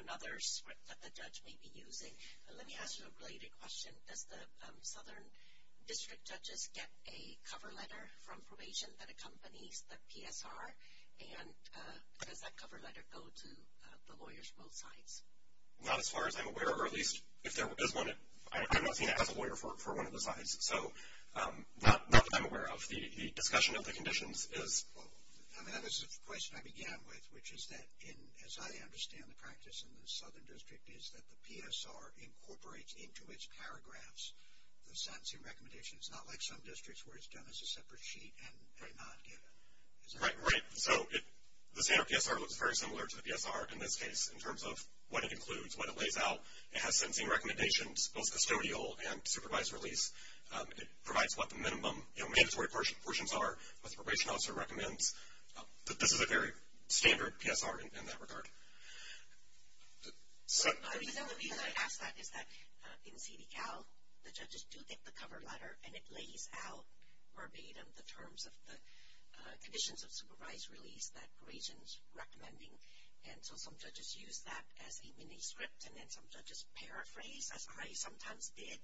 another script that the judge may be using. Okay, let me ask you a related question. Does the Southern District judges get a cover letter from probation that accompanies the PSR, and does that cover letter go to the lawyers from both sides? Not as far as I'm aware, or at least if there is one, I'm not seeing it as a lawyer for one of the sides. So, not that I'm aware of. The discussion of the conditions is. I mean, that was the question I began with, which is that, as I understand the practice in the Southern District, is that the PSR incorporates into its paragraphs the sentencing recommendations. It's not like some districts where it's done as a separate sheet and they not get it. Right, right. So, the standard PSR looks very similar to the PSR in this case in terms of what it includes, what it lays out. It has sentencing recommendations, both custodial and supervised release. It provides what the minimum mandatory portions are, what the probation officer recommends. This is a very standard PSR in that regard. The reason I ask that is that in CDCAL, the judges do get the cover letter, and it lays out verbatim the terms of the conditions of supervised release that probation is recommending. And so some judges use that as a mini-script, and then some judges paraphrase, as I sometimes did.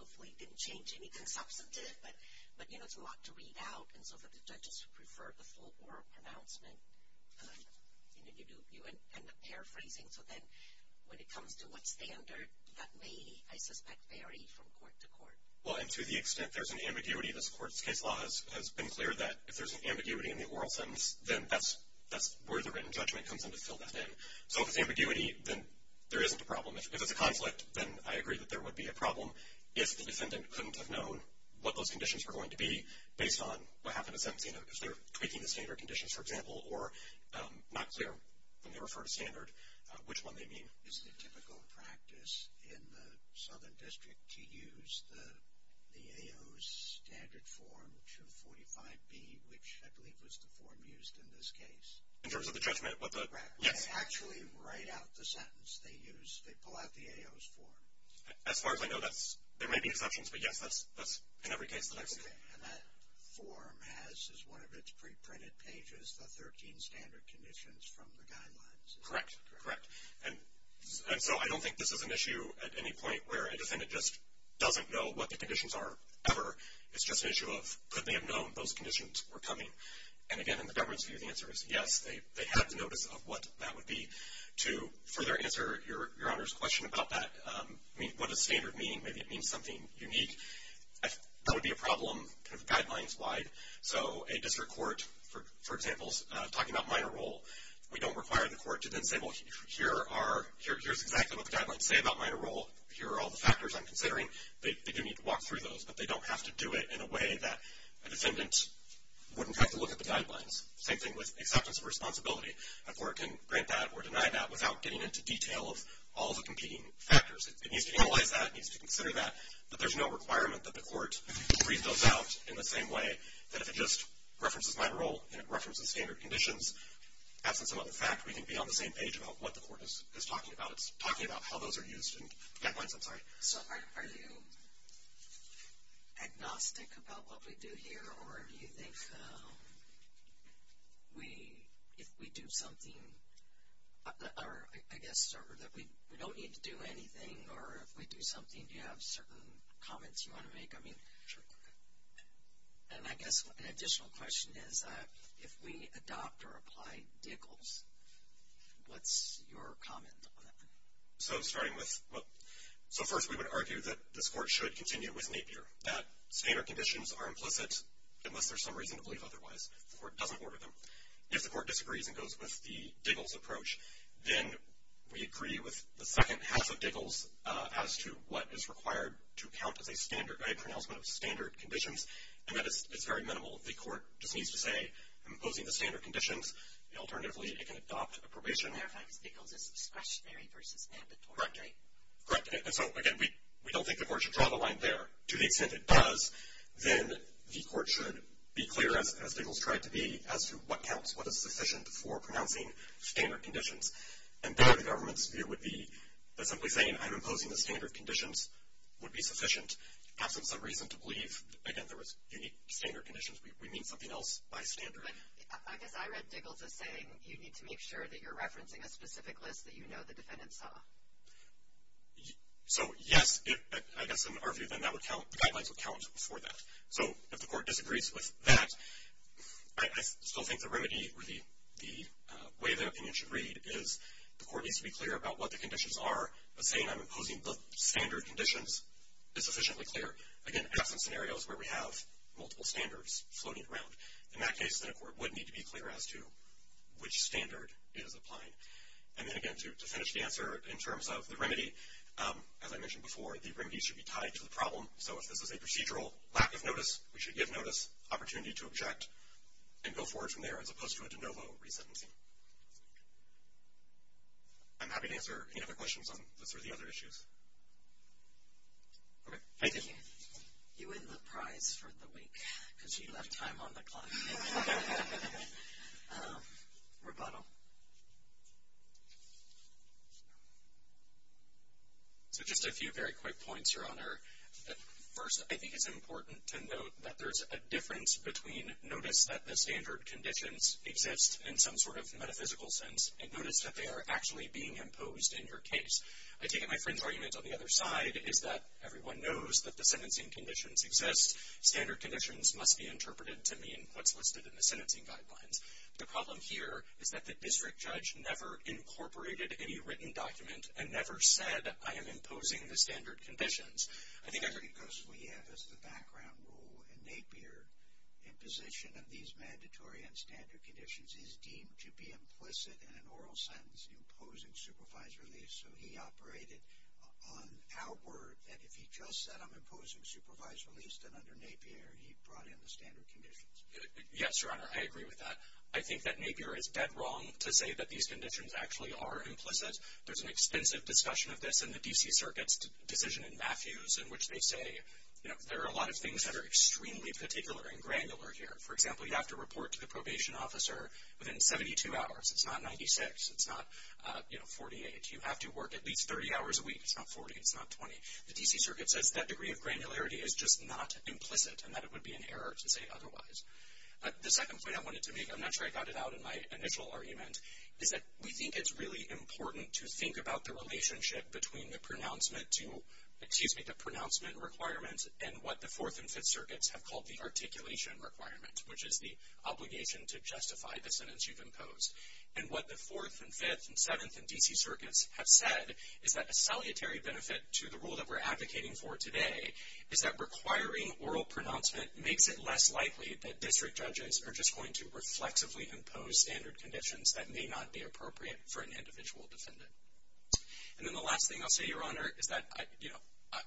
Hopefully it didn't change anything substantive, but, you know, it's a lot to read out. And so for the judges who prefer the full oral pronouncement, you end up paraphrasing. So then when it comes to what standard, that may, I suspect, vary from court to court. Well, and to the extent there's an ambiguity, this court's case law has been clear that if there's an ambiguity in the oral sentence, then that's where the written judgment comes in to fill that in. So if it's ambiguity, then there isn't a problem. If it's a conflict, then I agree that there would be a problem if the defendant couldn't have known what those conditions were going to be based on what happened in sentence. You know, if they're tweaking the standard conditions, for example, or not clear when they refer to standard, which one they mean. Is it a typical practice in the Southern District to use the AO's standard form 245B, which I believe was the form used in this case? In terms of the judgment? Correct. Yes. Actually write out the sentence they use. They pull out the AO's form. As far as I know, there may be exceptions, but, yes, that's in every case that I've seen. And that form has, as one of its preprinted pages, the 13 standard conditions from the guidelines. Correct, correct. And so I don't think this is an issue at any point where a defendant just doesn't know what the conditions are ever. It's just an issue of could they have known those conditions were coming? And, again, in the government's view, the answer is yes. They have the notice of what that would be. To further answer Your Honor's question about that, I mean, what does standard mean? Maybe it means something unique. That would be a problem kind of guidelines-wide. So a district court, for example, is talking about minor role. We don't require the court to then say, well, here's exactly what the guidelines say about minor role. Here are all the factors I'm considering. They do need to walk through those, but they don't have to do it in a way that a defendant wouldn't have to look at the guidelines. Same thing with acceptance of responsibility. A court can grant that or deny that without getting into detail of all the competing factors. It needs to analyze that. It needs to consider that. But there's no requirement that the court read those out in the same way that if it just references minor role and it references standard conditions, absent some other fact, we can be on the same page about what the court is talking about. I'm sorry. So are you agnostic about what we do here, or do you think we, if we do something, or I guess that we don't need to do anything, or if we do something, do you have certain comments you want to make? I mean, and I guess an additional question is if we adopt or apply DICLs, what's your comment on that? So starting with, well, so first we would argue that this court should continue with Napier, that standard conditions are implicit unless there's some reason to believe otherwise. The court doesn't order them. If the court disagrees and goes with the DICLs approach, then we agree with the second half of DICLs as to what is required to count as a standard, a pronouncement of standard conditions, and that is very minimal. The court just needs to say, I'm opposing the standard conditions. Alternatively, it can adopt a probation. As a matter of fact, DICLs is discretionary versus mandatory. Correct. And so, again, we don't think the court should draw the line there. To the extent it does, then the court should be clear, as DICLs tried to be, as to what counts, what is sufficient for pronouncing standard conditions. And there the government's view would be that simply saying, I'm imposing the standard conditions would be sufficient, absent some reason to believe, again, there was unique standard conditions. We mean something else by standard. I guess I read DICLs as saying you need to make sure that you're referencing a specific list that you know the defendant saw. So, yes, I guess in our view, then that would count. The guidelines would count for that. So if the court disagrees with that, I still think the remedy, or the way the opinion should read is the court needs to be clear about what the conditions are, but saying I'm imposing the standard conditions is sufficiently clear. Again, absent scenarios where we have multiple standards floating around. In that case, then a court would need to be clear as to which standard it is applying. And then, again, to finish the answer, in terms of the remedy, as I mentioned before, the remedy should be tied to the problem. So if this is a procedural lack of notice, we should give notice, opportunity to object, and go forward from there, as opposed to a de novo resentencing. I'm happy to answer any other questions on this or the other issues. Okay, thank you. You win the prize for the week, because you left time on the clock. Rebuttal. So just a few very quick points, Your Honor. First, I think it's important to note that there's a difference between notice that the standard conditions exist in some sort of metaphysical sense and notice that they are actually being imposed in your case. I take it my friend's argument on the other side is that everyone knows that the sentencing conditions exist. Standard conditions must be interpreted to mean what's listed in the sentencing guidelines. The problem here is that the district judge never incorporated any written document and never said, I am imposing the standard conditions. I think I heard you. Because we have as the background rule in Napier, imposition of these mandatory and standard conditions is deemed to be implicit in an oral sentence, imposing supervised release. So he operated on outward that if he just said I'm imposing supervised release, then under Napier he brought in the standard conditions. Yes, Your Honor, I agree with that. I think that Napier is dead wrong to say that these conditions actually are implicit. There's an extensive discussion of this in the D.C. Circuit's decision in Matthews in which they say, you know, there are a lot of things that are extremely particular and granular here. For example, you have to report to the probation officer within 72 hours. It's not 96. It's not, you know, 48. You have to work at least 30 hours a week. It's not 40. It's not 20. The D.C. Circuit says that degree of granularity is just not implicit and that it would be an error to say otherwise. The second point I wanted to make, I'm not sure I got it out in my initial argument, is that we think it's really important to think about the relationship between the pronouncement to, excuse me, the pronouncement requirements and what the Fourth and Fifth Circuits have called the articulation requirement, which is the obligation to justify the sentence you've imposed. And what the Fourth and Fifth and Seventh and D.C. Circuits have said is that a salutary benefit to the rule that we're advocating for today is that requiring oral pronouncement makes it less likely that district judges are just going to reflexively impose standard conditions that may not be appropriate for an individual defendant. And then the last thing I'll say, Your Honor, is that, you know,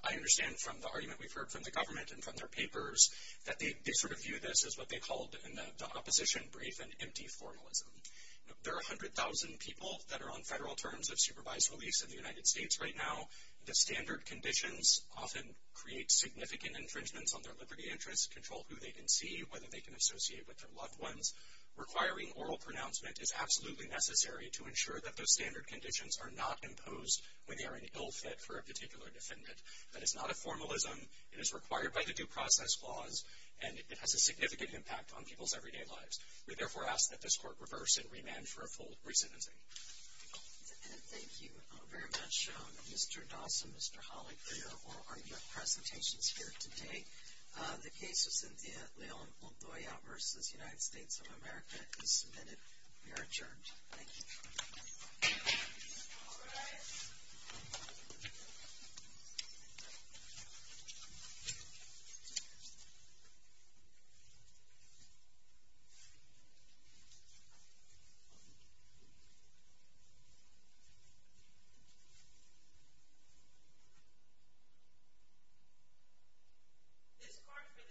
I understand from the argument we've heard from the government and from their papers that they sort of view this as what they called in the opposition brief an empty formalism. There are 100,000 people that are on federal terms of supervised release in the United States right now. The standard conditions often create significant infringements on their liberty interests, control who they can see, whether they can associate with their loved ones. Requiring oral pronouncement is absolutely necessary to ensure that those standard conditions are not imposed when they are an ill fit for a particular defendant. That is not a formalism. It is required by the Due Process Clause, and it has a significant impact on people's everyday lives. We therefore ask that this Court reverse and remand for a full re-sentencing. Thank you very much, Mr. Dawson, Mr. Hawley, for your oral argument presentations here today. The case of Cynthia Leal-Ontoya v. United States of America is submitted. You are adjourned. Thank you. Thank you. This Court for this session stands adjourned.